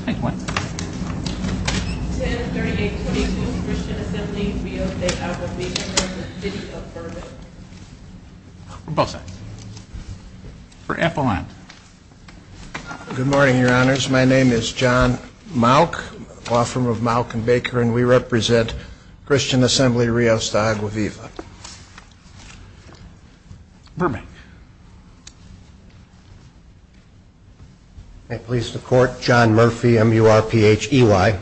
1038.22 Christian Assembly Rios De Agua Viva v. City of Burbank Good morning, your honors. My name is John Malk, law firm of Malk and Baker, and we represent Christian Assembly Rios De Agua Viva. Burbank May it please the court, John Murphy, M-U-R-P-H-E-Y,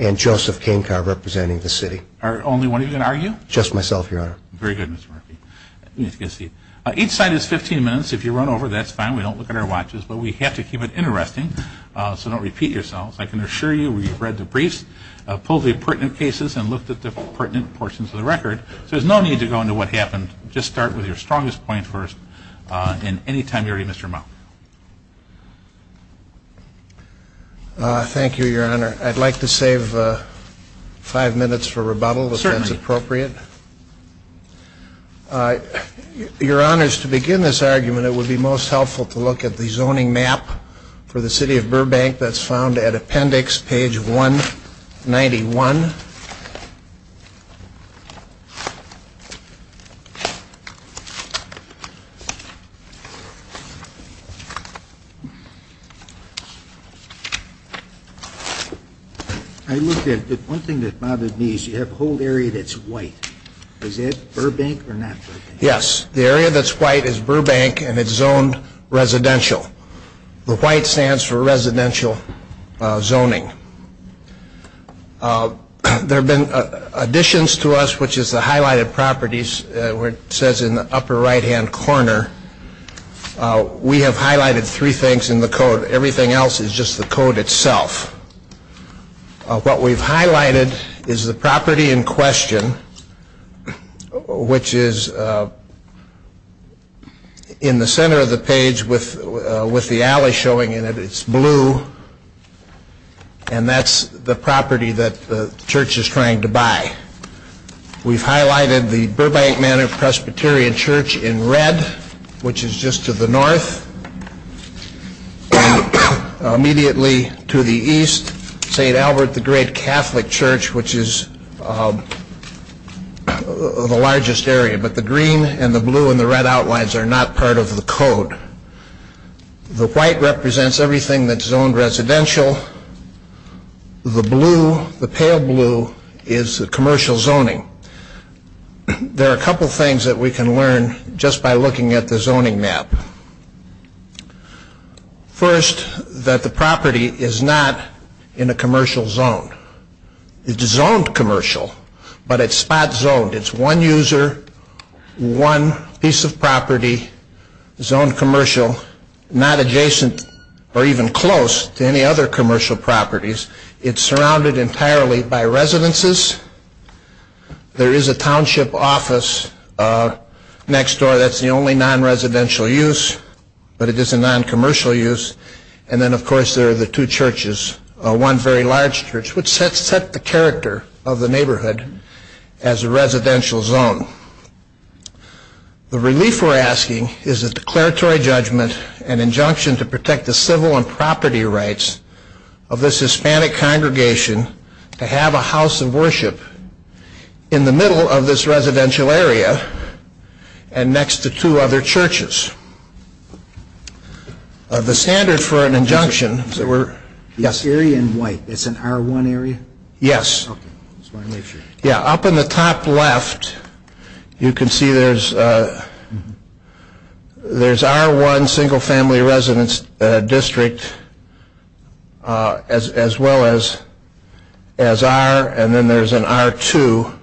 and Joseph Canecar representing the city. Are only one of you going to argue? Just myself, your honor. Very good, Mr. Murphy. You need to get a seat. Each side is 15 minutes. If you run over, that's fine. We don't look at our watches, but we have to keep it interesting, so don't repeat yourselves. I can assure you we've read the briefs, pulled the pertinent cases, and looked at the pertinent portions of the record, so there's no need to go into what your strongest point was. And any time you're ready, Mr. Malk. Thank you, your honor. I'd like to save five minutes for rebuttal, if that's appropriate. Your honors, to begin this argument, it would be most helpful to look at the zoning map for the city of Burbank that's found at appendix page 191. I looked at it, but one thing that bothered me is you have a whole area that's white. Is that Burbank or not Burbank? Yes, the area that's white is Burbank, and it's zoned residential. The white stands for residential zoning. There have been additions to us, which is the highlighted properties, where it says in the upper right-hand corner, we have highlighted three things in the code. Everything else is just the code itself. What we've highlighted is the property in question, which is in the center of the page with the alley showing in it. It's blue, and that's the property that the church is trying to buy. We've highlighted the Burbank Manor Presbyterian Church in red, which is just to the north, and immediately to the east, St. Albert the Great Catholic Church, which is the largest area, but the green and the blue and the red outlines are not part of the code. The white represents everything that's zoned residential. The blue, the pale blue, is the commercial zoning. There are a couple things that we can learn just by It's zoned commercial, but it's spot zoned. It's one user, one piece of property, zoned commercial, not adjacent or even close to any other commercial properties. It's surrounded entirely by residences. There is a township office next door. That's the only non-residential use, but it is a non-commercial use. And then, of course, there are the two churches, one very large church, which sets the character of the neighborhood as a residential zone. The relief we're asking is a declaratory judgment, an injunction to protect the civil and property rights of this Hispanic congregation to have a house of worship in the middle of this residential area and next to two other churches. The standard for an injunction is an R1 area. Up in the top left, you can see there's R1, single family residence district, as well as R, and then there's an R2.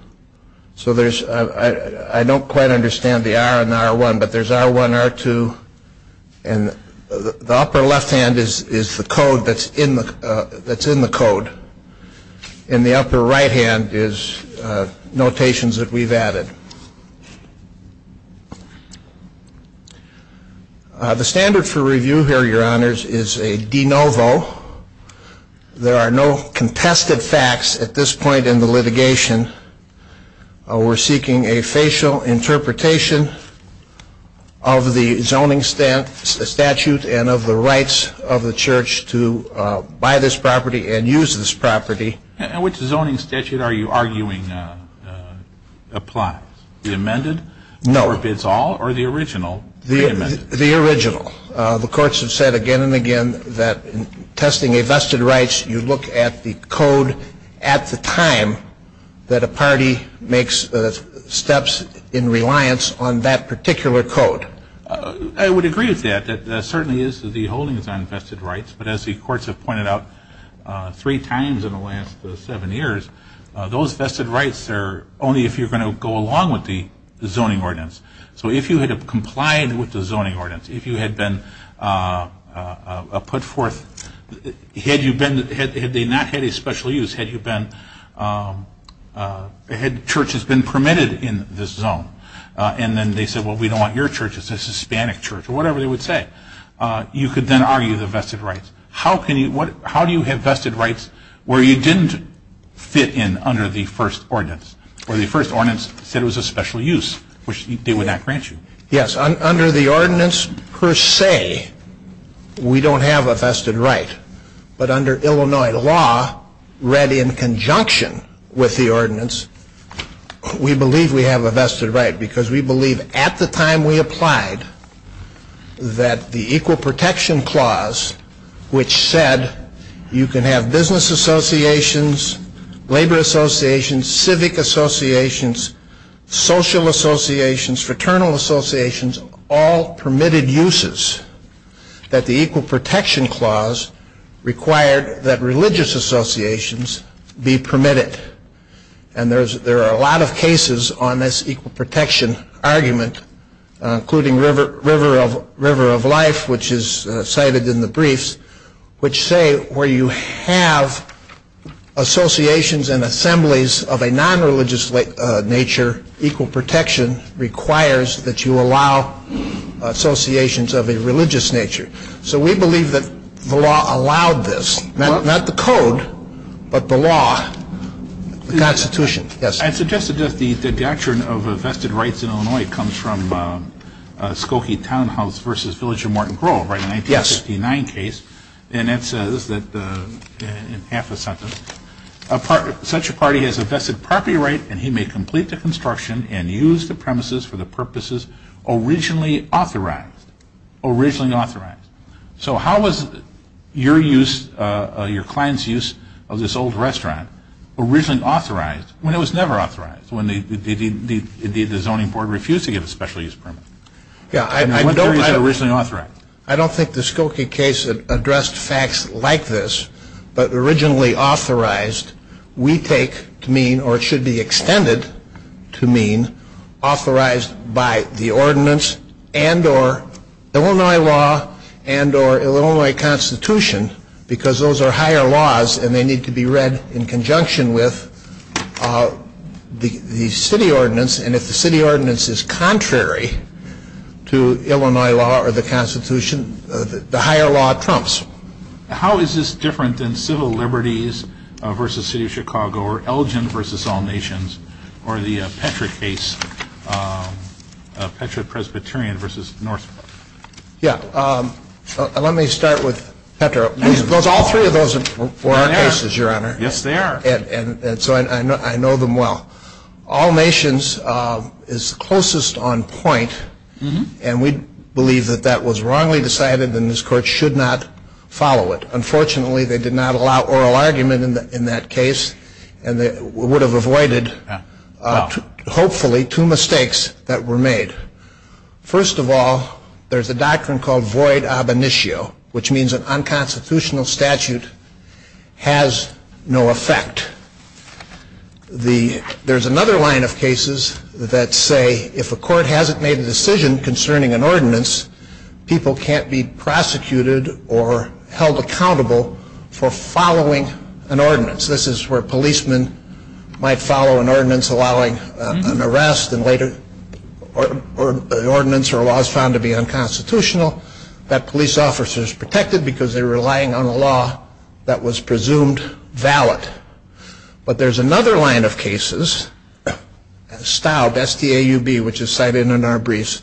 So there's, I don't quite understand the R and the R1, but there's R1, R2, and the upper left hand is the code that's in the code. In the upper right hand is notations that we've added. The standard for review here, Your Honors, is a de novo. There are no contested facts at this point in the litigation. We're seeking a facial interpretation of the zoning statute and of the rights of the church to buy this property and use this property. And which zoning statute are you arguing applies? The amended? No. Or the original? The original. The courts have said again and again that testing a vested rights, you look at the code at the time that a party makes steps in reliance on that particular code. I would agree with that. That certainly is the holdings on vested rights, but as the courts have pointed out three times in the last seven years, those with the zoning ordinance. So if you had complied with the zoning ordinance, if you had been put forth, had you been, had they not had a special use, had you been, had churches been permitted in this zone, and then they said, well, we don't want your church, it's a Hispanic church, or whatever they would say, you could then argue the vested rights. How can you, how do you have vested rights where you didn't fit in under the first ordinance, or the first ordinance said it was a special use, which they would not grant you? Yes, under the ordinance per se, we don't have a vested right. But under Illinois law, read in conjunction with the ordinance, we believe we have a vested right, because we believe at the time we applied that the equal protection clause, which said you can have business associations, labor associations, civic associations, social associations, fraternal associations, all permitted uses, that the equal protection clause required that religious associations be permitted. And there are a lot of cases on this equal protection argument, including River of Life, which is cited in the briefs, which say where you have associations and assemblies of a non-religious nature, equal protection requires that you allow associations of a religious nature. So we believe that the law allowed this. Not the code, but the law, the Constitution. Yes? I'd suggest that the doctrine of vested rights in Illinois comes from Skokie Townhouse v. Village of Morton Grove, a 1959 case, and it says, in half a sentence, such a party has a vested property right, and he may complete the construction and use the premises for the purposes originally authorized. So how was your client's use of this old restaurant originally authorized, when it was never authorized, when the zoning board refused to give a special use permit? Yeah, I don't think the Skokie case addressed facts like this, but originally authorized, we take to mean, or it should be extended to mean, authorized by the ordinance and or Illinois law and or Illinois Constitution, because those are higher laws and they need to be read in conjunction with the city ordinance, and if the city ordinance is contrary to Illinois law or the Constitution, the higher law trumps. How is this different than Civil Liberties v. City of Chicago or Elgin v. All Nations or the Petra case, Petra-Presbyterian v. Northport? Yeah, let me start with Petra. All three of those were our cases, Your Honor. Yes, they are. And so I know them well. All Nations is closest on point, and we believe that that was wrongly decided and this Court should not follow it. Unfortunately, they did not allow oral argument in that case, and they would have avoided, hopefully, two mistakes that were made. First of all, there's a doctrine called void ab initio, which means an unconstitutional statute has no effect. There's another line of cases that say if a court hasn't made a decision concerning an ordinance, people can't be prosecuted or held accountable for following an ordinance. This is where policemen might follow an ordinance allowing an arrest and later the ordinance or law is found to be unconstitutional, that police officer is protected because they're relying on a law that was presumed valid. But there's another line of cases, STAUB, which is cited in our briefs,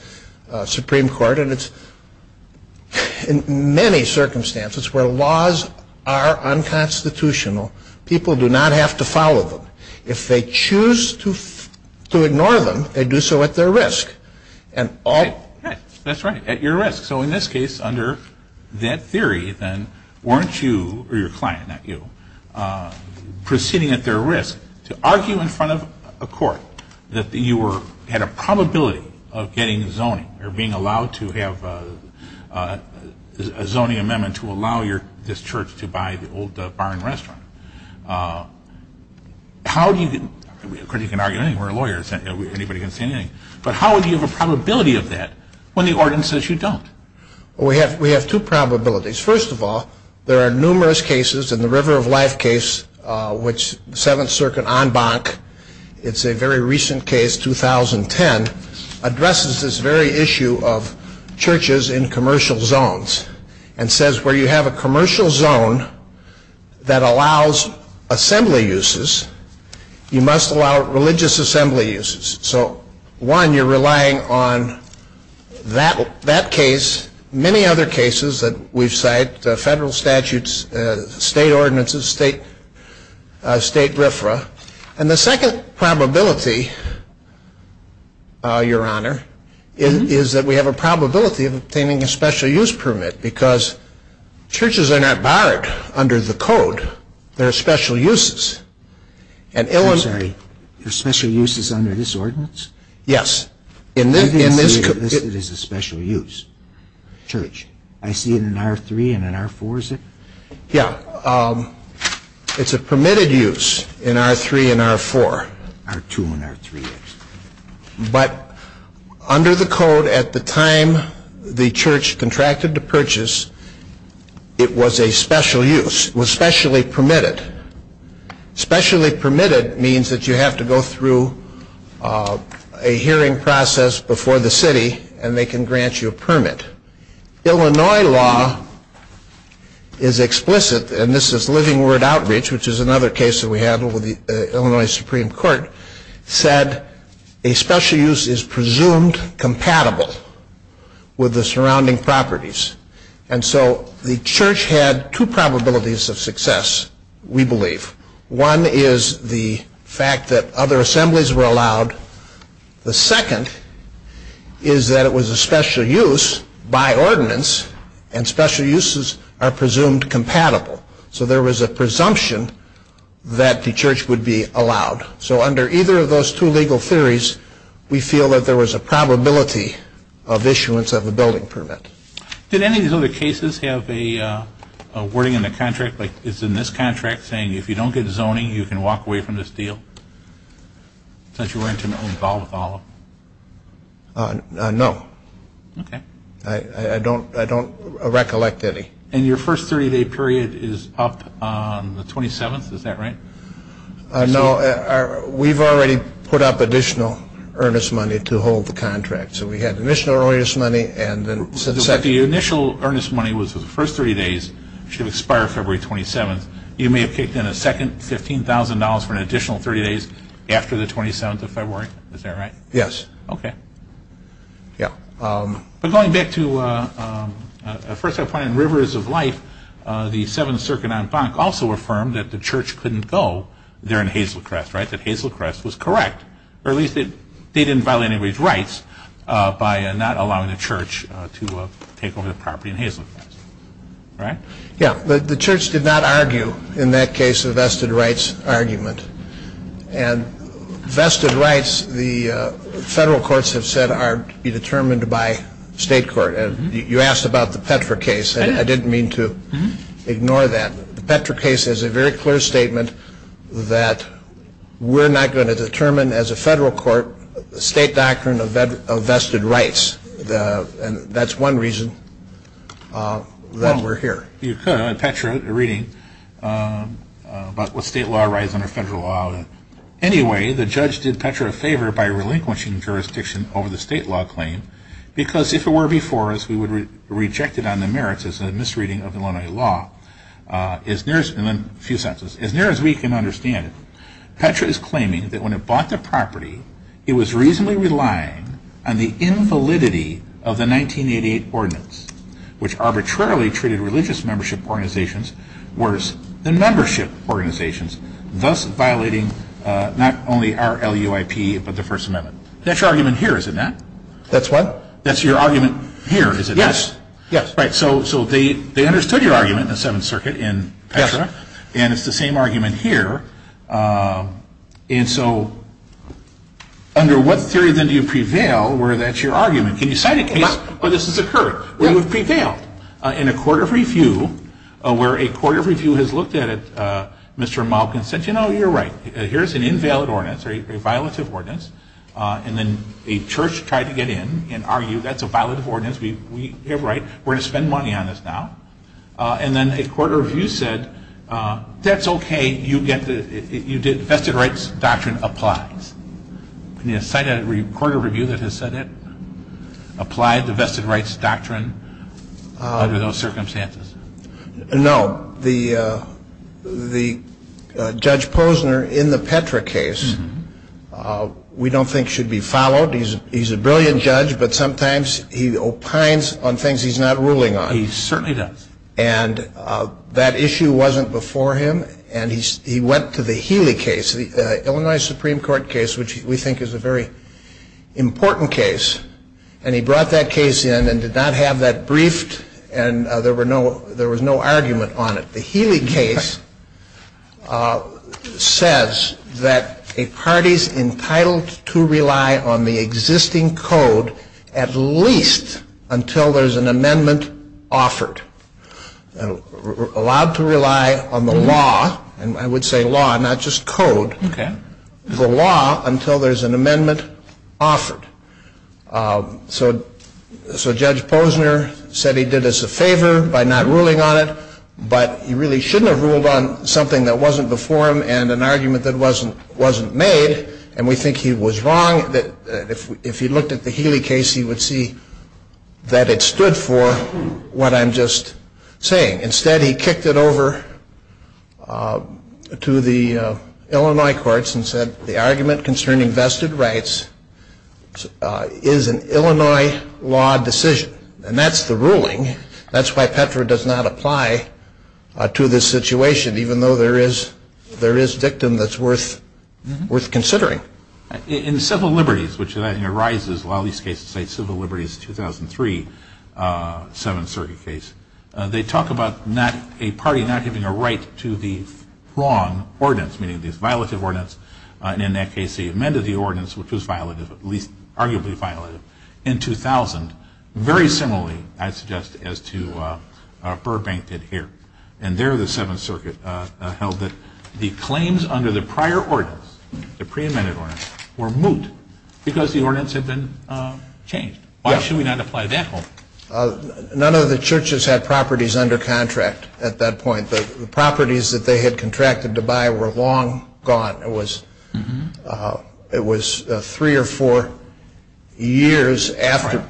Supreme Court, and it's in many circumstances where laws are unconstitutional, people do not have to follow them. If they choose to ignore them, they do so at their risk. That's right, at your risk. So in this case, under that theory, then, weren't you, or your client, not you, proceeding at their risk to argue in front of a court that you had a probability of getting zoning or being allowed to have a zoning amendment to allow this church to buy the old barn restaurant? How do you, of course you can argue anything, we're lawyers, but how do you have a probability of that when the ordinance says you don't? We have two probabilities. First of all, there are numerous cases in the River of Life case, which 7th Circuit en banc, it's a very recent case, 2010, addresses this very issue of churches in commercial zones and says where you have a commercial zone that allows assembly uses, you must allow religious assembly uses. So one, you're relying on that case, many other cases that we've cited, federal statutes, state ordinances, state RFRA, and the second probability, your honor, is that we have a probability of obtaining a special use permit because churches are not barred under the code, there are special uses. I'm sorry, there are special uses under this ordinance? Yes. I didn't see it as a special use. Church. I see it in R3 and R4, is it? Yeah. It's a permitted use in R3 and R4. R2 and R3, yes. But under the code, at the time the church contracted to purchase, it was a special use. It was specially permitted. Specially permitted means that you have to go through a hearing process before the city and they can grant you a permit. Illinois law is explicit, and this is living word outreach, which is another case that we had with the Illinois Supreme Court, said a special use is presumed compatible with the surrounding properties. And so the church had two probabilities of success, we believe. One is the fact that other assemblies were allowed. The second is that it was a special use by ordinance, and special uses are presumed compatible. So there was a presumption that the church would be allowed. So under either of those two legal theories, we feel that there was a probability of issuance of a building permit. Did any of these other cases have a wording in the contract, like it's in this contract, saying if you don't get zoning, you can walk away from this deal? Since you weren't involved with all of them? No. Okay. I don't recollect any. And your first 30-day period is up on the 27th, is that right? No. We've already put up additional earnest money to hold the contract. So we had initial earnest money and then since that... But the initial earnest money was for the first 30 days, should expire February 27th. You may have kicked in a second $15,000 for an additional 30 days after the 27th of February, is that right? Yes. Okay. Yeah. But going back to, first I find in Rivers of Life, the Seventh Circuit en banc also affirmed that the church couldn't go there in Hazelcrest, right? That Hazelcrest was correct, or at least they didn't violate anybody's rights by not allowing the church to take over the property in Hazelcrest, right? Yeah. The church did not argue in that case a vested rights argument. And vested rights, the federal courts have said are to be determined by state court. And you asked about the Petra case and I didn't mean to ignore that. The Petra case has a very clear statement that we're not going to determine as a federal court the state doctrine of vested rights. And that's one reason that we're here. You could. I had a Petra reading about what state law writes under federal law. Anyway, the judge did Petra a favor by relinquishing jurisdiction over the state law claim because if it were before us, we would reject it on the merits as a misreading of Illinois law. As near as we can understand it, Petra is claiming that when it bought the property, it was reasonably relying on the invalidity of the 1988 ordinance, which arbitrarily treated religious membership organizations worse than membership organizations, thus violating not only our LUIP but the First Amendment. That's your argument here, is it not? That's what? That's your argument here, is it not? Yes. Right. So they understood your argument in the Seventh Circuit in Petra. And it's the same argument here. And so under what theory then do you prevail where that's your argument? Can you cite a case where this has occurred, where you've prevailed? In a court of review, where a court of review has looked at it, Mr. Malkin said, you know, you're right. Here's an invalid ordinance, or a violative ordinance. And then a church tried to get in and argued that's a violative ordinance. You're right. We're going to spend money on this now. And then a court of review said, that's okay. You get the vested rights doctrine applies. Can you cite a court of review that has said it? Applied the vested rights doctrine under those circumstances? No. The Judge Posner in the Petra case we don't think should be followed. He's a brilliant judge, but sometimes he opines on things he's not ruling on. He certainly does. And that issue wasn't before him. And he went to the Healey case, the Illinois Supreme Court case, which we think is a very important case. And he brought that case in and did not have that briefed, and there was no argument on it. The Healey case says that a party's entitled to rely on the existing code at least until there's an amendment offered. Allowed to rely on the law, and I would say law, not just code, the law until there's an amendment offered. So Judge Posner said he did us a favor by not ruling on it, but he really shouldn't have ruled on something that wasn't before him and an argument that wasn't made. And we think he was wrong. If he looked at the Healey case, he would see that it stood for what I'm just saying. Instead, he kicked it over to the Illinois courts and said the argument concerning vested rights is an Illinois law decision. And that's the ruling. That's why Petra does not apply to this situation, even though there is a victim that's worth considering. In civil liberties, which arises in a lot of these cases, civil liberties 2003, 7th Circuit case, they talk about a party not giving a right to the wrong ordinance, meaning it's a violative ordinance. And in that case, they amended the ordinance, which was violative, at least arguably violative, in 2000, very similarly, I suggest, as to Burbank did here. And there the 7th Circuit held that the claims under the prior ordinance, the pre-amended ordinance, were moot because the ordinance had been changed. Why should we not apply that home? None of the churches had properties under contract at that point. The properties that they had contracted to buy were long gone. It was three or four years after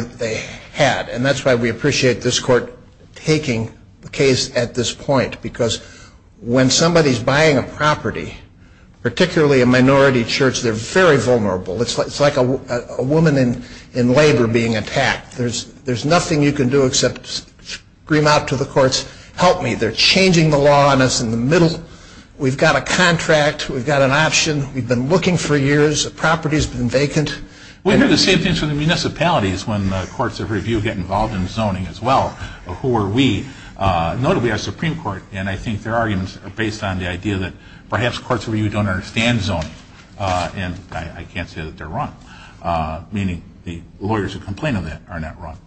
they had. And that's why we appreciate this court taking the case at this point. Because when somebody's buying a property, particularly a minority church, they're very vulnerable. It's like a woman in labor being attacked. There's nothing you can do except scream out to the courts, help me, they're changing the law and it's in the middle. We've got a contract, we've got an option, we've been looking for years, the property's been vacant. We hear the same things from the municipalities when the courts of review get involved in zoning as well. Who are we? Notably our Supreme Court. And I think their arguments are based on the idea that perhaps courts of review don't understand zoning. And I can't say that they're wrong. Meaning the lawyers who complain of that are not wrong.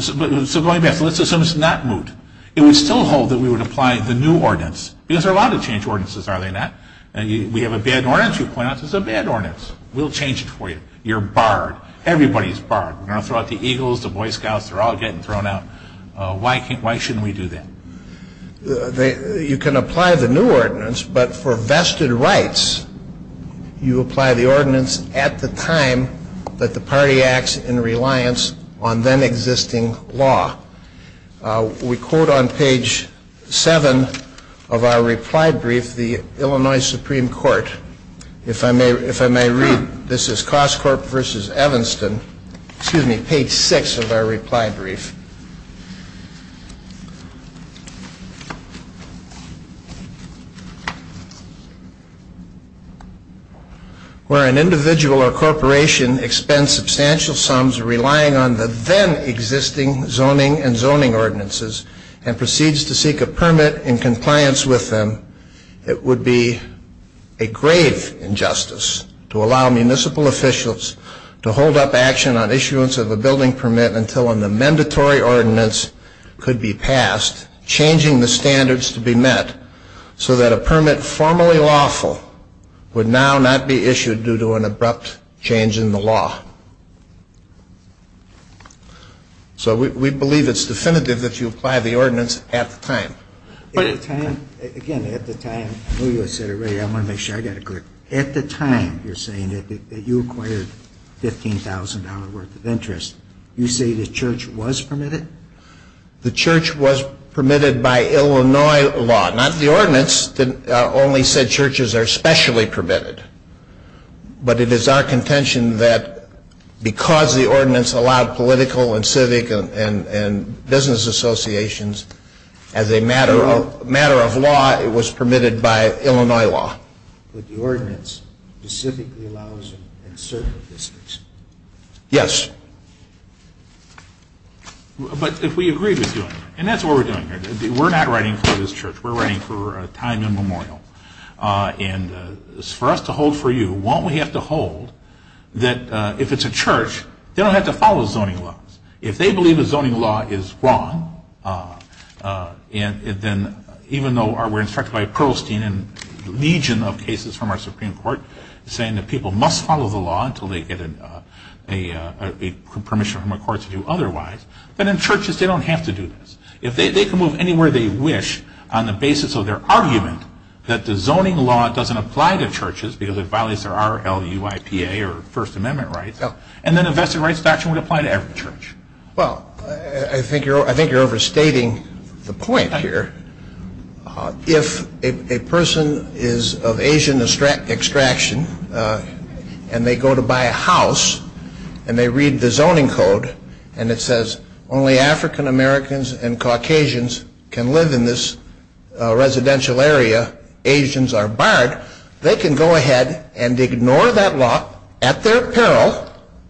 So going back, let's assume it's not moot. It would still hold that we would apply the new ordinance. Because there are a lot of change ordinances, are there not? We have a bad ordinance, you point out there's a bad ordinance. We'll change it for you. You're barred. Everybody's barred. We're going to throw out the Eagles, the Boy Scouts, they're all getting thrown out. Why shouldn't we do that? You can apply the new ordinance, but for vested rights, you apply the ordinance at the time that the party acts in reliance on then existing law. We quote on page 7 of our reply brief, the Illinois Supreme Court. If I may read, this is Coscorp v. Evanston, excuse me, page 6 of our reply brief. Where an individual or corporation expends substantial sums relying on the then existing zoning and zoning ordinances and proceeds to seek a permit in compliance with them, it would be a grave injustice to allow municipal officials to hold up action on issuance of a building permit until an amendment or ordinance could be passed, changing the standards to be met, so that a permit formally lawful would now not be issued due to an abrupt change in the law. So we believe it's definitive that you apply the ordinance at the time. Again, at the time, I know you said it already, I want to make sure I got it good. At the time you're saying that you acquired $15,000 worth of interest, you say the church was permitted? The church was permitted by Illinois law. Not the ordinance that only said churches are specially permitted, but it is our contention that because the ordinance allowed political and civic and business associations, as a matter of law, it was permitted by Illinois law. But the ordinance specifically allows in certain districts. Yes. But if we agree with you, and that's what we're doing here, we're not writing for this church, we're writing for a time immemorial. And for us to hold for you, won't we have to hold that if it's a church, they don't have to follow zoning laws. If they believe a zoning law is wrong, even though we're instructed by Perlstein and a legion of cases from our Supreme Court saying that people must follow the law until they get permission from a court to do otherwise, but in churches they don't have to do this. If they can move anywhere they wish on the basis of their argument that the zoning law doesn't apply to churches because it violates their RLUIPA or First Amendment rights, and then a vested rights doctrine would apply to every church. Well, I think you're overstating the point here. If a person is of Asian extraction and they go to buy a house, and they read the zoning code, and it says only African Americans and Caucasians can live in this residential area, Asians are barred, they can go ahead and ignore that law at their peril.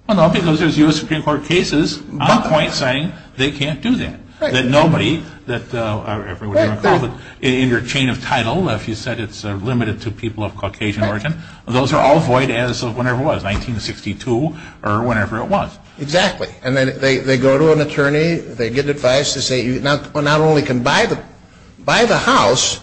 Well, no, because there's U.S. Supreme Court cases on point saying they can't do that. That nobody, in your chain of title, if you said it's limited to people of Caucasian origin, those are all void as of whenever it was, 1962 or whenever it was. Exactly. And then they go to an attorney, they get advice, they say you not only can buy the house,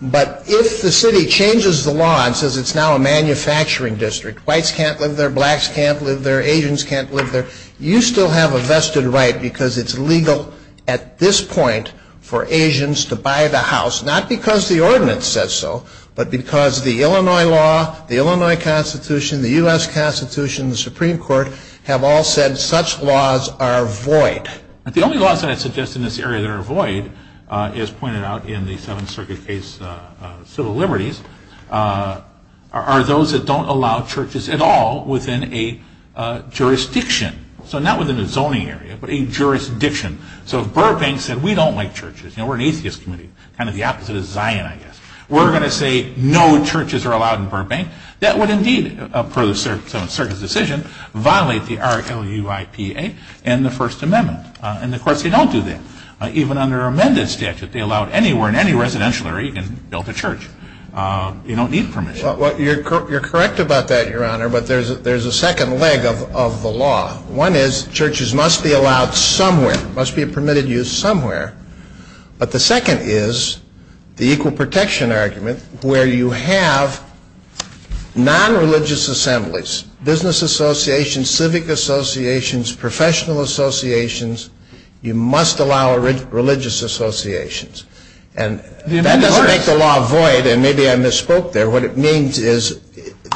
but if the city changes the law and says it's now a manufacturing district, whites can't live there, blacks can't live there, Asians can't live there, you still have a vested right because it's legal at this point for Asians to buy the house, not because the ordinance says so, but because the Illinois law, the Illinois Constitution, the U.S. Constitution, the Supreme Court have all said such laws are void. But the only laws that I suggest in this area that are void, as pointed out in the Seventh Circuit case, civil liberties, are those that don't allow churches at all within a jurisdiction. So not within a zoning area, but a jurisdiction. So if Burbank said we don't like churches, we're an atheist community, kind of the opposite of Zion, I guess, we're going to say no churches are allowed in Burbank, that would indeed, per the Seventh Circuit's decision, violate the R-L-U-I-P-A and the First Amendment. And the courts, they don't do that. Even under amended statute, they allow it anywhere in any residential area, you can build a church. You don't need permission. Well, you're correct about that, Your Honor, but there's a second leg of the law. One is churches must be allowed somewhere, must be permitted use somewhere. But the second is the equal protection argument, where you have non-religious assemblies, business associations, civic associations, professional associations, you must allow religious associations. And that doesn't make the law void, and maybe I misspoke there. What it means is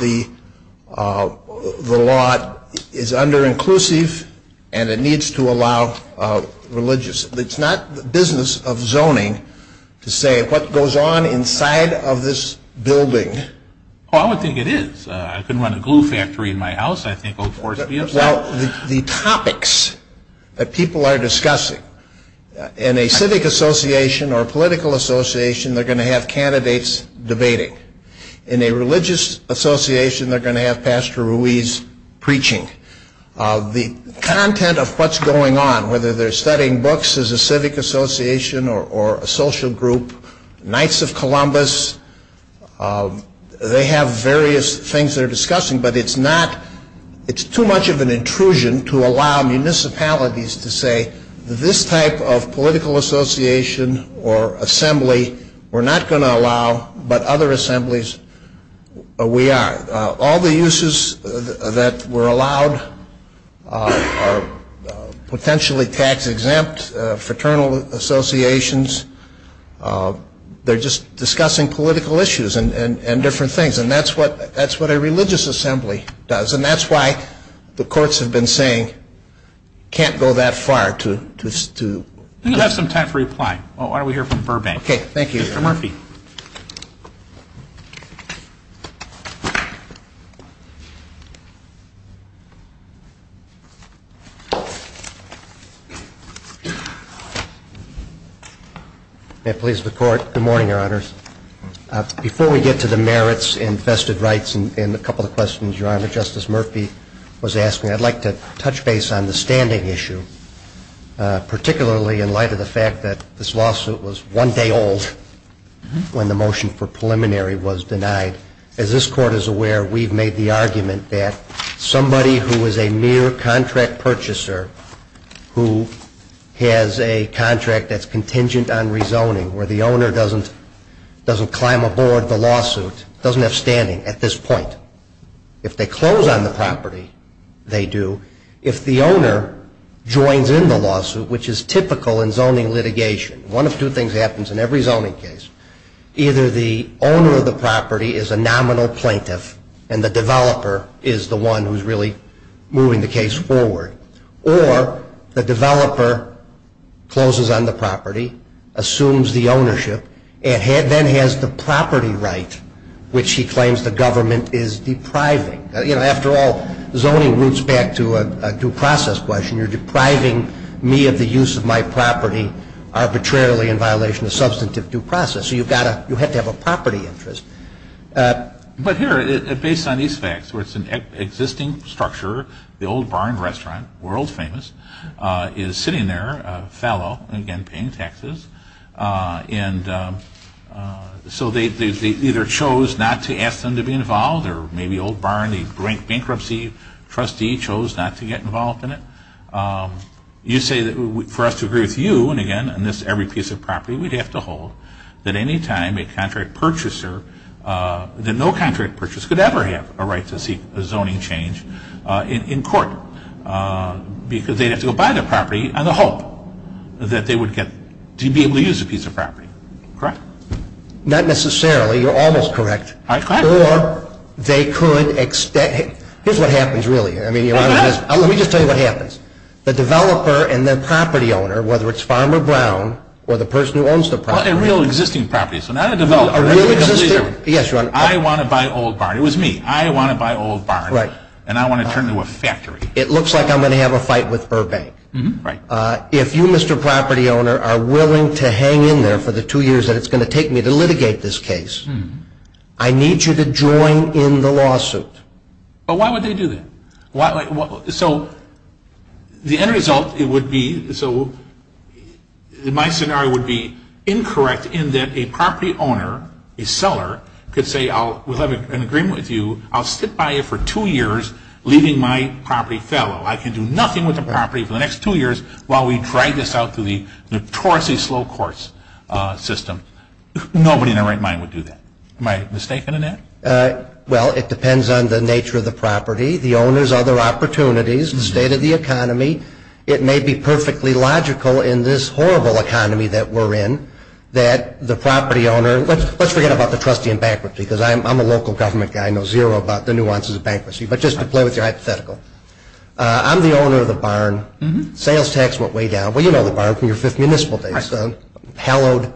the law is under-inclusive, and it needs to allow religious. It's not the business of zoning to say what goes on inside of this building. Oh, I would think it is. I could run a glue factory in my house, I think. Well, the topics that people are discussing, in a civic association or political association, they're going to have candidates debating. In a religious association, they're going to have Pastor Ruiz preaching. The content of what's going on, whether they're studying books as a civic association or a social group, Knights of Columbus, they have various things they're discussing. But it's too much of an intrusion to allow municipalities to say, this type of political association or assembly, we're not going to allow, but other assemblies, we are. All the uses that were allowed are potentially tax-exempt. Fraternal associations, they're just discussing political issues and different things. And that's what a religious assembly does. And that's why the courts have been saying, can't go that far to... We have some time for reply. Why don't we hear from Burbank. Okay, thank you. Mr. Murphy. May it please the Court. Good morning, Your Honors. Before we get to the merits and vested rights and a couple of questions, Your Honor, Justice Murphy was asking, I'd like to touch base on the standing issue, particularly in light of the fact that this lawsuit was one day old when the motion for preliminary was denied. As this is a case where we've made the argument that somebody who is a mere contract purchaser who has a contract that's contingent on rezoning, where the owner doesn't climb aboard the lawsuit, doesn't have standing at this point. If they close on the property, they do. If the owner joins in the lawsuit, which is typical in zoning litigation, one of two things happens in every zoning case. Either the owner of the property is a nominal plaintiff, and the developer is the one who's really moving the case forward, or the developer closes on the property, assumes the ownership, and then has the property right, which he claims the government is depriving. After all, zoning roots back to a due process question. You're depriving me of the use of my property arbitrarily in violation of substantive due process. So you have to have a property interest. But here, based on these facts, where it's an existing structure, the Old Barn restaurant, world famous, is sitting there, a fellow, again paying taxes. And so they either chose not to ask them to be involved, or maybe Old Barn, the bankruptcy trustee, chose not to get involved in it. You say that for us to agree with you, and again, on this every piece of property, we'd have to hold that any time a contract purchaser, that no contract purchaser, could ever have a right to seek a zoning change in court, because they'd have to go buy the property on the hope that they would get to be able to use a piece of property. Correct? Not necessarily. You're almost correct. All right. Go ahead. Or they could extend. Here's what happens, really. I mean, let me just tell you what happens. The developer and the property owner, whether it's Farmer Brown, or the person who owns the property. A real existing property. So not a developer. A real existing. Yes, Your Honor. I want to buy Old Barn. It was me. I want to buy Old Barn. Right. And I want to turn it into a factory. It looks like I'm going to have a fight with Urbank. Right. If you, Mr. Property Owner, are willing to hang in there for the two years that it's going to take me to litigate this case, I need you to join in the lawsuit. But why would they do that? So the end result, it would be, so my scenario would be incorrect in that a property owner, a seller, could say, we'll have an agreement with you. I'll sit by it for two years, leaving my property fellow. I can do nothing with the property for the next two years while we drag this out through the notoriously slow course system. Nobody in their right mind would do that. Am I mistaken in that? Well, it depends on the nature of the property, the owner's other opportunities, the state of the economy. It may be perfectly logical in this horrible economy that we're in that the property owner, let's forget about the trustee and bankruptcy, because I'm a local government guy. I know zero about the nuances of bankruptcy. But just to play with your hypothetical, I'm the owner of the barn. Sales tax went way down. Well, you know the barn from your fifth municipal days. Right. Hallowed.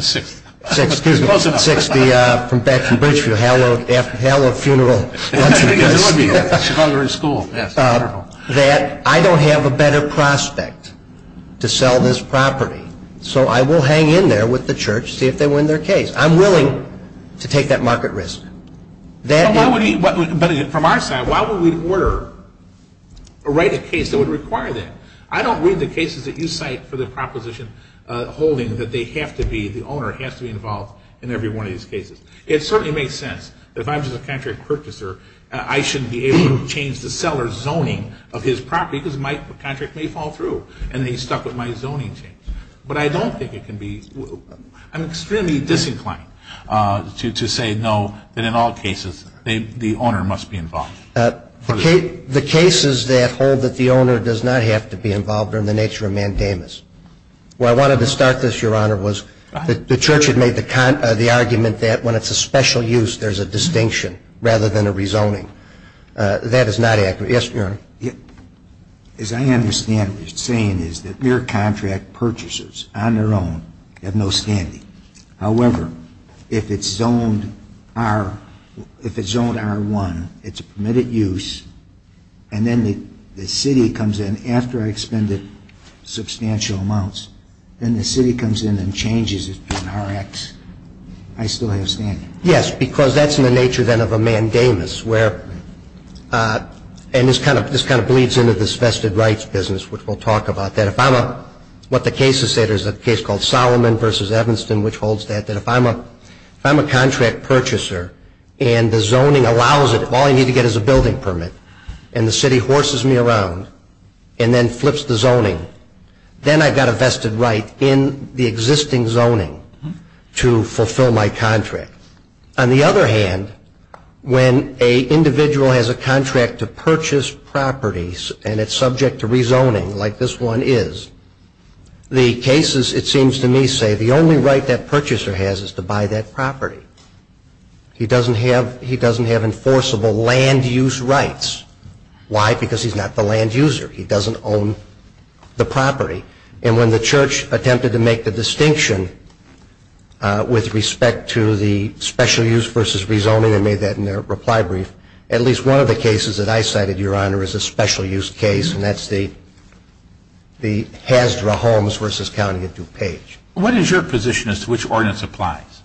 Sixth. Excuse me. Close enough. From Batchelor Bridgefield, hallowed funeral. I think it would be. She found her in school. Yes. Wonderful. That I don't have a better prospect to sell this property, so I will hang in there with the church, see if they win their case. I'm willing to take that market risk. But from our side, why would we order or write a case that would require that? I don't read the cases that you cite for the proposition holding that they have to be, the owner has to be involved in every one of these cases. It certainly makes sense that if I'm just a contract purchaser, I shouldn't be able to change the seller's zoning of his property because my contract may fall through and he's stuck with my zoning change. But I don't think it can be. I'm extremely disinclined to say no, that in all cases the owner must be involved. The cases that hold that the owner does not have to be involved are in the nature of mandamus. Where I wanted to start this, Your Honor, was the church had made the argument that when it's a special use, there's a distinction rather than a rezoning. That is not accurate. Yes, Your Honor. As I understand what you're saying is that mere contract purchasers on their own have no standing. However, if it's zoned R, if it's zoned R1, it's a permitted use, and then the city comes in after I've expended substantial amounts, then the city comes in and changes it to an RX, I still have standing. Yes, because that's in the nature then of a mandamus where, and this kind of bleeds into this vested rights business which we'll talk about. What the cases say, there's a case called Solomon v. Evanston which holds that if I'm a contract purchaser and the zoning allows it, all I need to get is a building permit, and the city horses me around and then flips the zoning, then I've got a vested right in the existing zoning to fulfill my contract. On the other hand, when an individual has a contract to purchase properties and it's subject to rezoning like this one is, the cases, it seems to me, say, the only right that purchaser has is to buy that property. He doesn't have enforceable land use rights. Why? Because he's not the land user. He doesn't own the property. And when the church attempted to make the distinction with respect to the special use versus rezoning, they made that in their reply brief, at least one of the cases that I cited, Your Honor, is a special use case, and that's the Hasdra homes versus County of DuPage. What is your position as to which ordinance applies?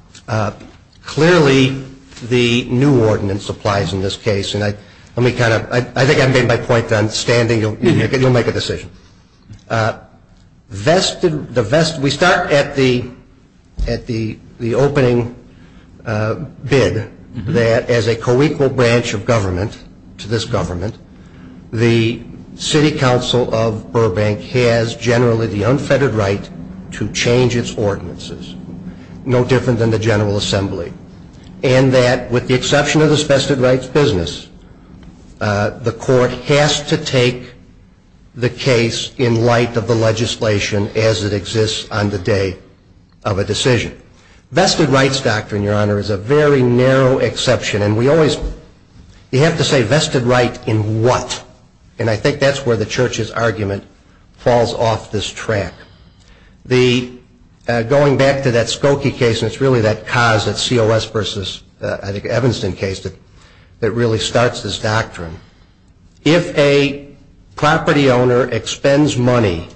Clearly, the new ordinance applies in this case. And let me kind of, I think I've made my point on standing. You'll make a decision. We start at the opening bid that as a co-equal branch of government to this government, the City Council of Burbank has generally the unfettered right to change its ordinances, no different than the General Assembly, and that with the exception of the vested rights business, the court has to take the case in light of the legislation as it exists on the day of a decision. Vested rights doctrine, Your Honor, is a very narrow exception, and we always have to say vested right in what? And I think that's where the church's argument falls off this track. Going back to that Skokie case, and it's really that cause that COS versus Evanston case that really starts this doctrine. If a property owner expends money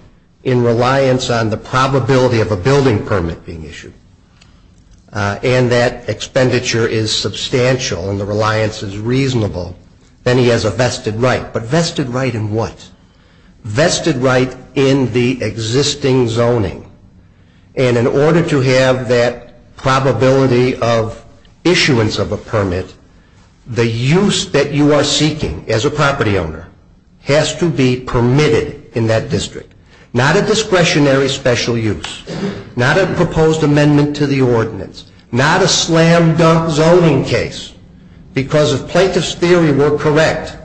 in reliance on the probability of a building permit being issued, and that expenditure is substantial and the reliance is reasonable, then he has a vested right. But vested right in what? Vested right in the existing zoning. And in order to have that probability of issuance of a permit, the use that you are seeking as a property owner has to be permitted in that district. Not a discretionary special use. Not a proposed amendment to the ordinance. Not a slam-dunk zoning case. Because if plaintiff's theory were correct,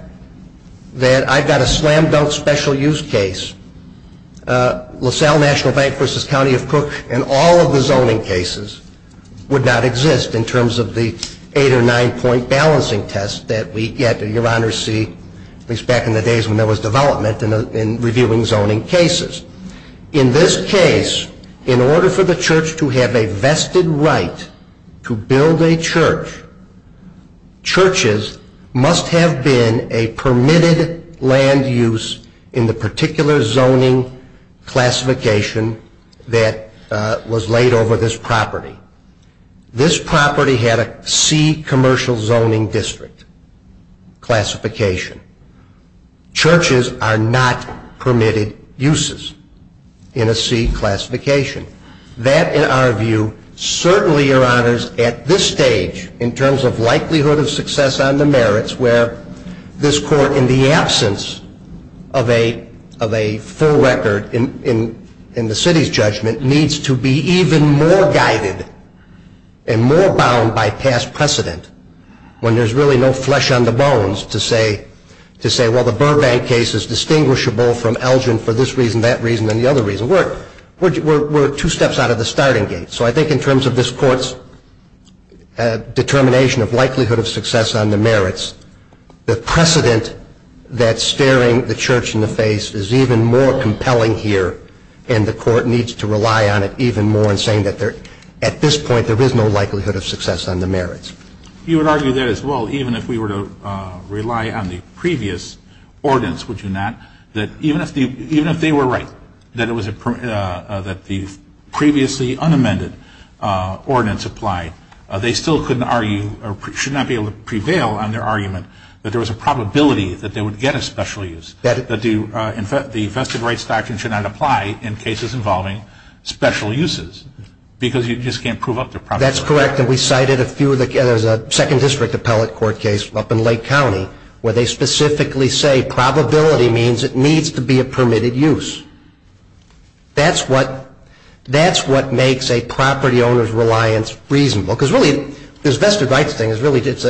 that I've got a slam-dunk special use case, LaSalle National Bank versus County of Crook, and all of the zoning cases would not exist in terms of the eight or nine point balancing test that we get, or your honors see, at least back in the days when there was development in reviewing zoning cases. In this case, in order for the church to have a vested right to build a church, churches must have been a permitted land use in the particular zoning classification that was laid over this property. This property had a C commercial zoning district classification. Churches are not permitted uses in a C classification. That, in our view, certainly, your honors, at this stage, in terms of likelihood of success on the merits where this court, in the absence of a full record in the city's judgment, needs to be even more guided and more bound by past precedent when there's really no flesh on the bones to say, well, the Burbank case is distinguishable from Elgin for this reason, that reason, and the other reason. We're two steps out of the starting gate. So I think in terms of this court's determination of likelihood of success on the merits, the precedent that's staring the church in the face is even more compelling here, and the court needs to rely on it even more in saying that, at this point, there is no likelihood of success on the merits. You would argue that as well, even if we were to rely on the previous ordinance, would you not, that even if they were right, that the previously unamended ordinance applied, they still couldn't argue, or should not be able to prevail on their argument, that there was a probability that they would get a special use, that the vested rights doctrine should not apply in cases involving special uses, because you just can't prove up their probability. That's correct, and we cited a few. There's a second district appellate court case up in Lake County where they specifically say that probability means it needs to be a permitted use. That's what makes a property owner's reliance reasonable, because really this vested rights thing, it's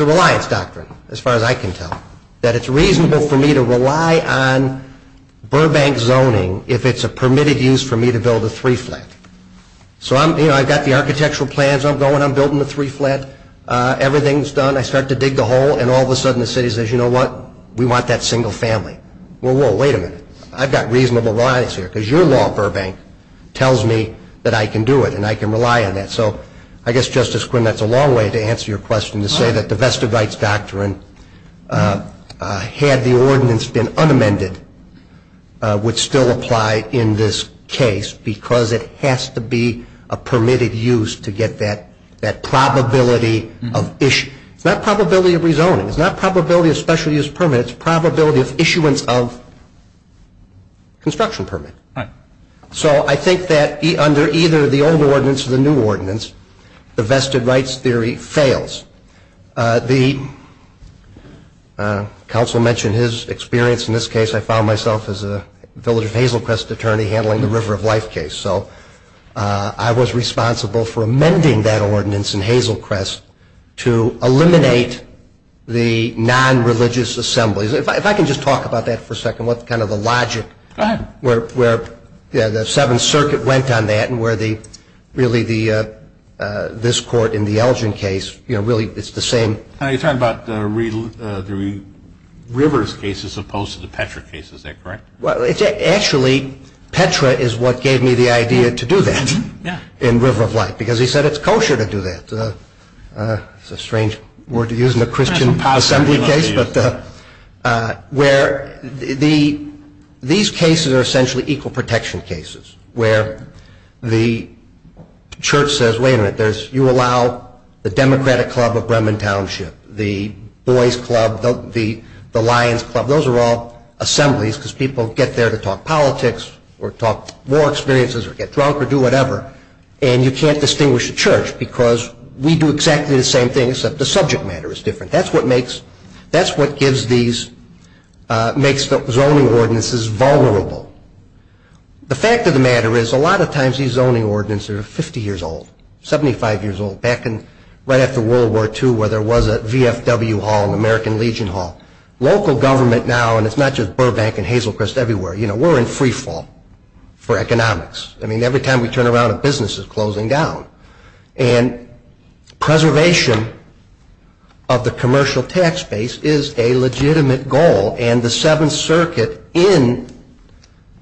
a reliance doctrine, as far as I can tell, that it's reasonable for me to rely on Burbank zoning if it's a permitted use for me to build a three-flat. So I've got the architectural plans, I'm going, I'm building the three-flat, everything's done, I start to dig the hole, and all of a sudden the city says, you know what, we want that single family. Well, whoa, wait a minute, I've got reasonable reliance here, because your law at Burbank tells me that I can do it and I can rely on that. So I guess, Justice Quinn, that's a long way to answer your question, to say that the vested rights doctrine, had the ordinance been unamended, would still apply in this case because it has to be a permitted use to get that probability of issue. It's not probability of rezoning. It's not probability of special use permit. It's probability of issuance of construction permit. So I think that under either the old ordinance or the new ordinance, the vested rights theory fails. The counsel mentioned his experience in this case. I found myself as a Village of Hazelcrest attorney handling the River of Life case. So I was responsible for amending that ordinance in Hazelcrest to eliminate the non-religious assemblies. If I can just talk about that for a second, what's kind of the logic where the Seventh Circuit went on that and where really this court in the Elgin case, you know, really it's the same. You're talking about the Rivers case as opposed to the Petra case, is that correct? Well, actually, Petra is what gave me the idea to do that in River of Life because he said it's kosher to do that. It's a strange word to use in a Christian assembly case. These cases are essentially equal protection cases where the church says, wait a minute, you allow the Democratic Club of Bremen Township, the Boys Club, the Lions Club, those are all assemblies because people get there to talk politics or talk war experiences or get drunk or do whatever, and you can't distinguish a church because we do exactly the same thing except the subject matter is different. That's what makes zoning ordinances vulnerable. The fact of the matter is a lot of times these zoning ordinances are 50 years old, 75 years old, back right after World War II where there was a VFW hall, an American Legion hall. Local government now, and it's not just Burbank and Hazel Crest everywhere, you know, we're in free fall for economics. I mean, every time we turn around a business is closing down, and preservation of the commercial tax base is a legitimate goal, and the Seventh Circuit in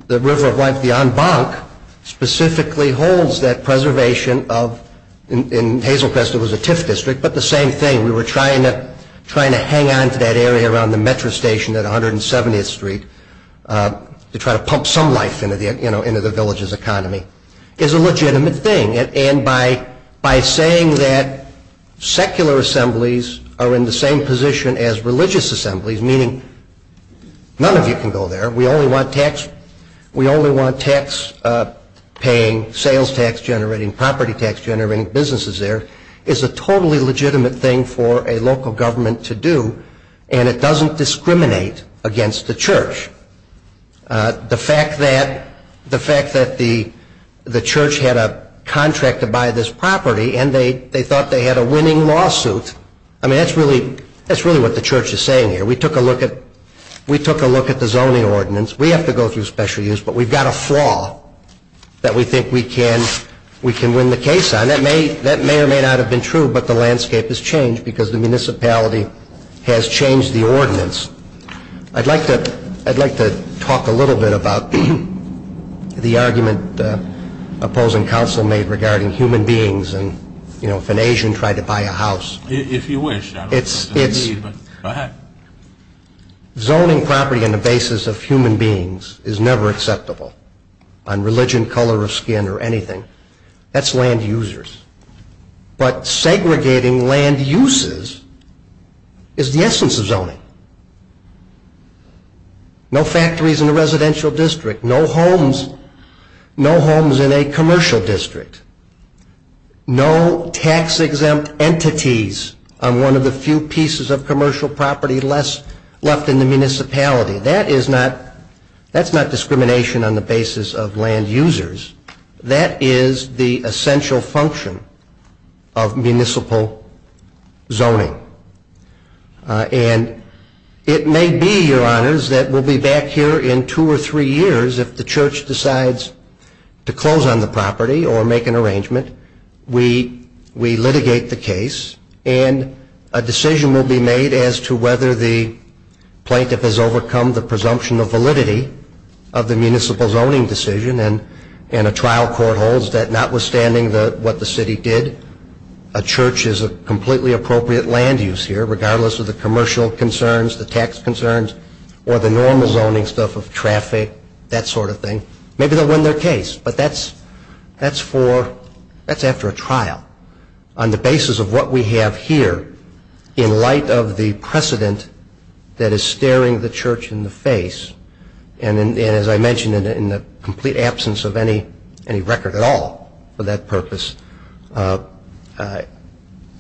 the River of Life, the en banc, specifically holds that preservation of, in Hazel Crest it was a TIF district, but the same thing. We were trying to hang on to that area around the metro station at 170th Street to try to pump some life into the village's economy. It's a legitimate thing, and by saying that secular assemblies are in the same position as religious assemblies, meaning none of you can go there, we only want tax paying, sales tax generating, property tax generating businesses there, is a totally legitimate thing for a local government to do, and it doesn't discriminate against the church. The fact that the church had a contract to buy this property and they thought they had a winning lawsuit, I mean, that's really what the church is saying here. We took a look at the zoning ordinance. We have to go through special use, but we've got a flaw that we think we can win the case on. And that may or may not have been true, but the landscape has changed because the municipality has changed the ordinance. I'd like to talk a little bit about the argument opposing counsel made regarding human beings and, you know, if an Asian tried to buy a house. If you wish. Go ahead. Zoning property on the basis of human beings is never acceptable on religion, color of skin, or anything. That's land users. But segregating land uses is the essence of zoning. No factories in a residential district. No homes in a commercial district. No tax exempt entities on one of the few pieces of commercial property left in the municipality. That is not discrimination on the basis of land users. That is the essential function of municipal zoning. And it may be, Your Honors, that we'll be back here in two or three years if the church decides to close on the property or make an arrangement, we litigate the case, and a decision will be made as to whether the plaintiff has overcome the presumption of validity of the municipal zoning decision. And a trial court holds that notwithstanding what the city did, a church is a completely appropriate land use here regardless of the commercial concerns, the tax concerns, or the normal zoning stuff of traffic, that sort of thing. Maybe they'll win their case, but that's after a trial. On the basis of what we have here in light of the precedent that is staring the church in the face, and as I mentioned in the complete absence of any record at all for that purpose,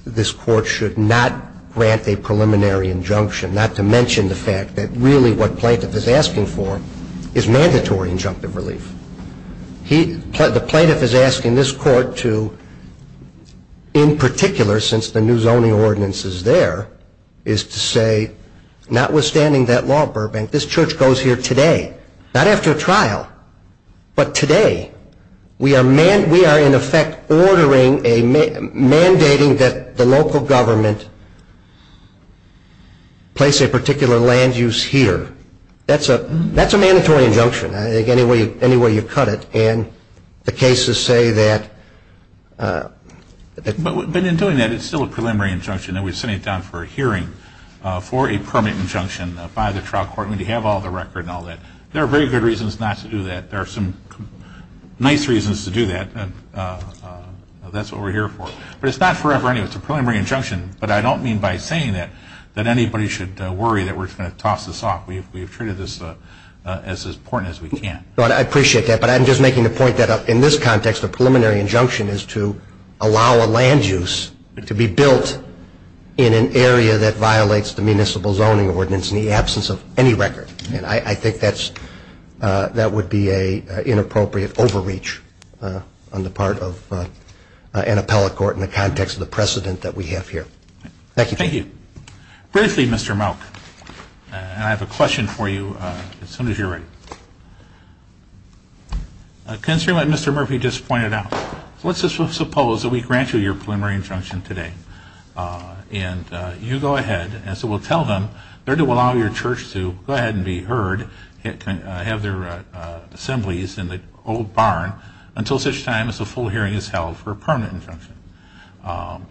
this court should not grant a preliminary injunction, not to mention the fact that really what plaintiff is asking for is mandatory injunctive relief. The plaintiff is asking this court to, in particular since the new zoning ordinance is there, is to say, notwithstanding that law at Burbank, this church goes here today, not after a trial, but today we are in effect mandating that the local government place a particular land use here. That's a mandatory injunction. I think any way you cut it, and the cases say that... But in doing that, it's still a preliminary injunction. We're sending it down for a hearing for a permanent injunction by the trial court. We have all the record and all that. There are very good reasons not to do that. There are some nice reasons to do that. That's what we're here for. But it's not forever anyway. It's a preliminary injunction. But I don't mean by saying that that anybody should worry that we're going to toss this off. We've treated this as important as we can. I appreciate that, but I'm just making the point that in this context, a preliminary injunction is to allow a land use to be built in an area that violates the municipal zoning ordinance in the absence of any record. I think that would be an inappropriate overreach on the part of an appellate court in the context of the precedent that we have here. Thank you. Thank you. Briefly, Mr. Mouk, I have a question for you as soon as you're ready. Considering what Mr. Murphy just pointed out, let's just suppose that we grant you your preliminary injunction today. And you go ahead, as we'll tell them, they're to allow your church to go ahead and be heard, have their assemblies in the old barn, until such time as a full hearing is held for a permanent injunction.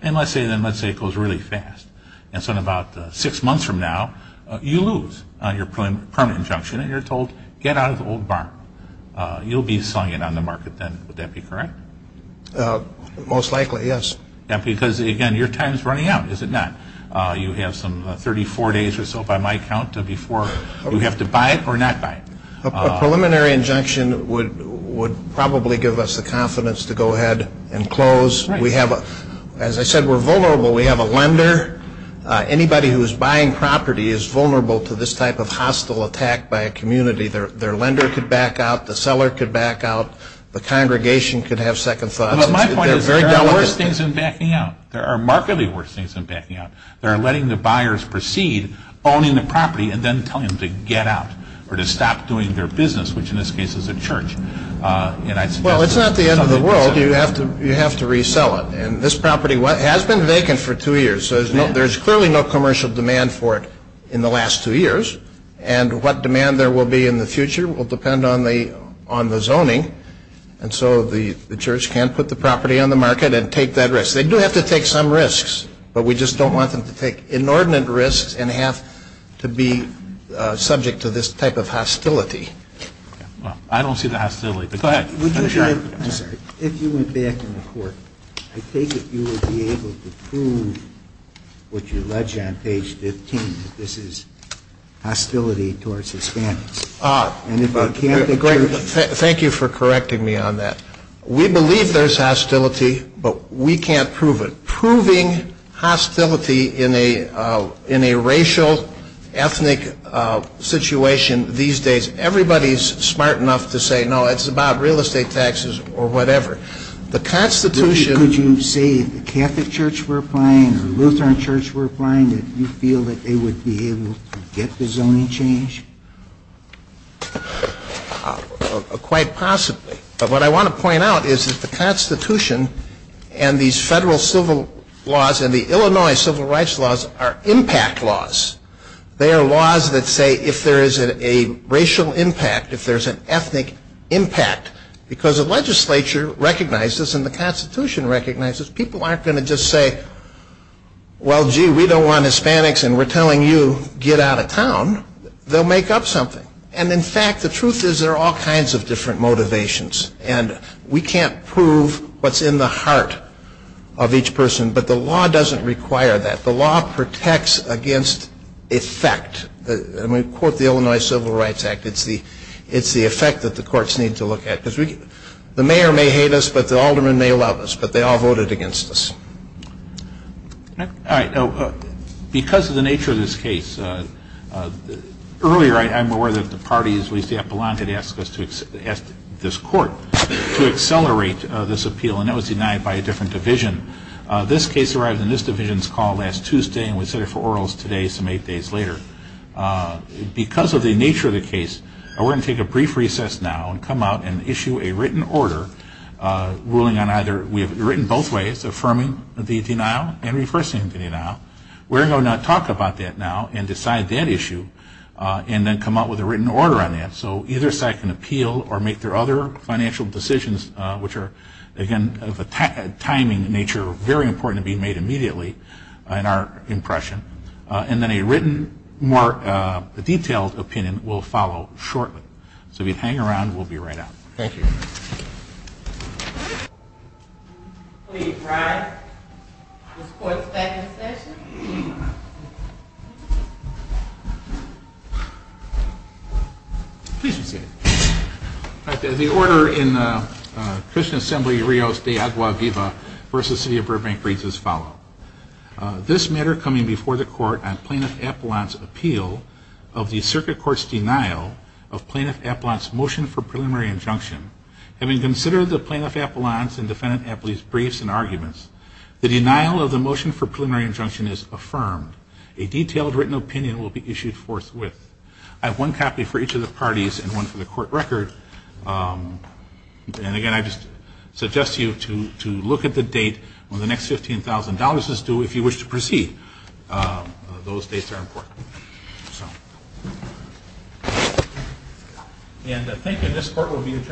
And let's say it goes really fast. And so in about six months from now, you lose your permanent injunction, and you're told, get out of the old barn. You'll be selling it on the market then. Would that be correct? Most likely, yes. Because, again, your time is running out, is it not? You have some 34 days or so, by my count, before you have to buy it or not buy it. A preliminary injunction would probably give us the confidence to go ahead and close. As I said, we're vulnerable. We have a lender. Anybody who is buying property is vulnerable to this type of hostile attack by a community. Their lender could back out. The seller could back out. The congregation could have second thoughts. My point is there are worse things than backing out. There are markedly worse things than backing out. They're letting the buyers proceed, owning the property, and then telling them to get out or to stop doing their business, which in this case is a church. Well, it's not the end of the world. You have to resell it. And this property has been vacant for two years, so there's clearly no commercial demand for it in the last two years. And what demand there will be in the future will depend on the zoning. And so the church can put the property on the market and take that risk. They do have to take some risks, but we just don't want them to take inordinate risks and have to be subject to this type of hostility. I don't see the hostility. Go ahead. I'm sorry. If you went back in the court, I take it you would be able to prove what you allege on page 15, that this is hostility towards Hispanics. Thank you for correcting me on that. We believe there's hostility, but we can't prove it. Proving hostility in a racial, ethnic situation these days, everybody's smart enough to say, no, it's about real estate taxes or whatever. The Constitution. Could you say if the Catholic Church were applying or Lutheran Church were applying, that you feel that they would be able to get the zoning change? Quite possibly. But what I want to point out is that the Constitution and these federal civil laws and the Illinois civil rights laws are impact laws. They are laws that say if there is a racial impact, if there's an ethnic impact, because the legislature recognizes and the Constitution recognizes, people aren't going to just say, well, gee, we don't want Hispanics and we're telling you get out of town. They'll make up something. And, in fact, the truth is there are all kinds of different motivations, and we can't prove what's in the heart of each person. But the law doesn't require that. The law protects against effect. When we quote the Illinois Civil Rights Act, it's the effect that the courts need to look at. The mayor may hate us, but the aldermen may love us, but they all voted against us. Because of the nature of this case, earlier I'm aware that the parties we see up along had asked this court to accelerate this appeal, and that was denied by a different division. This case arrived in this division's call last Tuesday, and we set it for orals today some eight days later. Because of the nature of the case, we're going to take a brief recess now and come out and issue a written order ruling on either we have it written both ways, affirming the denial and reversing the denial. We're going to talk about that now and decide that issue and then come out with a written order on that. So either side can appeal or make their other financial decisions, which are, again, of a timing nature, very important to be made immediately in our impression. And then a written, more detailed opinion will follow shortly. So if you'd hang around, we'll be right out. Thank you. Please rise. This court is back in session. Please be seated. The order in Christian Assembly Rios de Agua Viva v. City of Burbank reads as follows. This matter coming before the court on Plaintiff Appellant's appeal of the Circuit Court's denial of Plaintiff Appellant's motion for preliminary injunction, having considered the Plaintiff Appellant's and Defendant Appellant's briefs and arguments, the denial of the motion for preliminary injunction is affirmed. A detailed written opinion will be issued forthwith. I have one copy for each of the parties and one for the court record. And, again, I just suggest to you to look at the date when the next $15,000 is due if you wish to proceed. Those dates are important. And thank you. This court will be adjourned.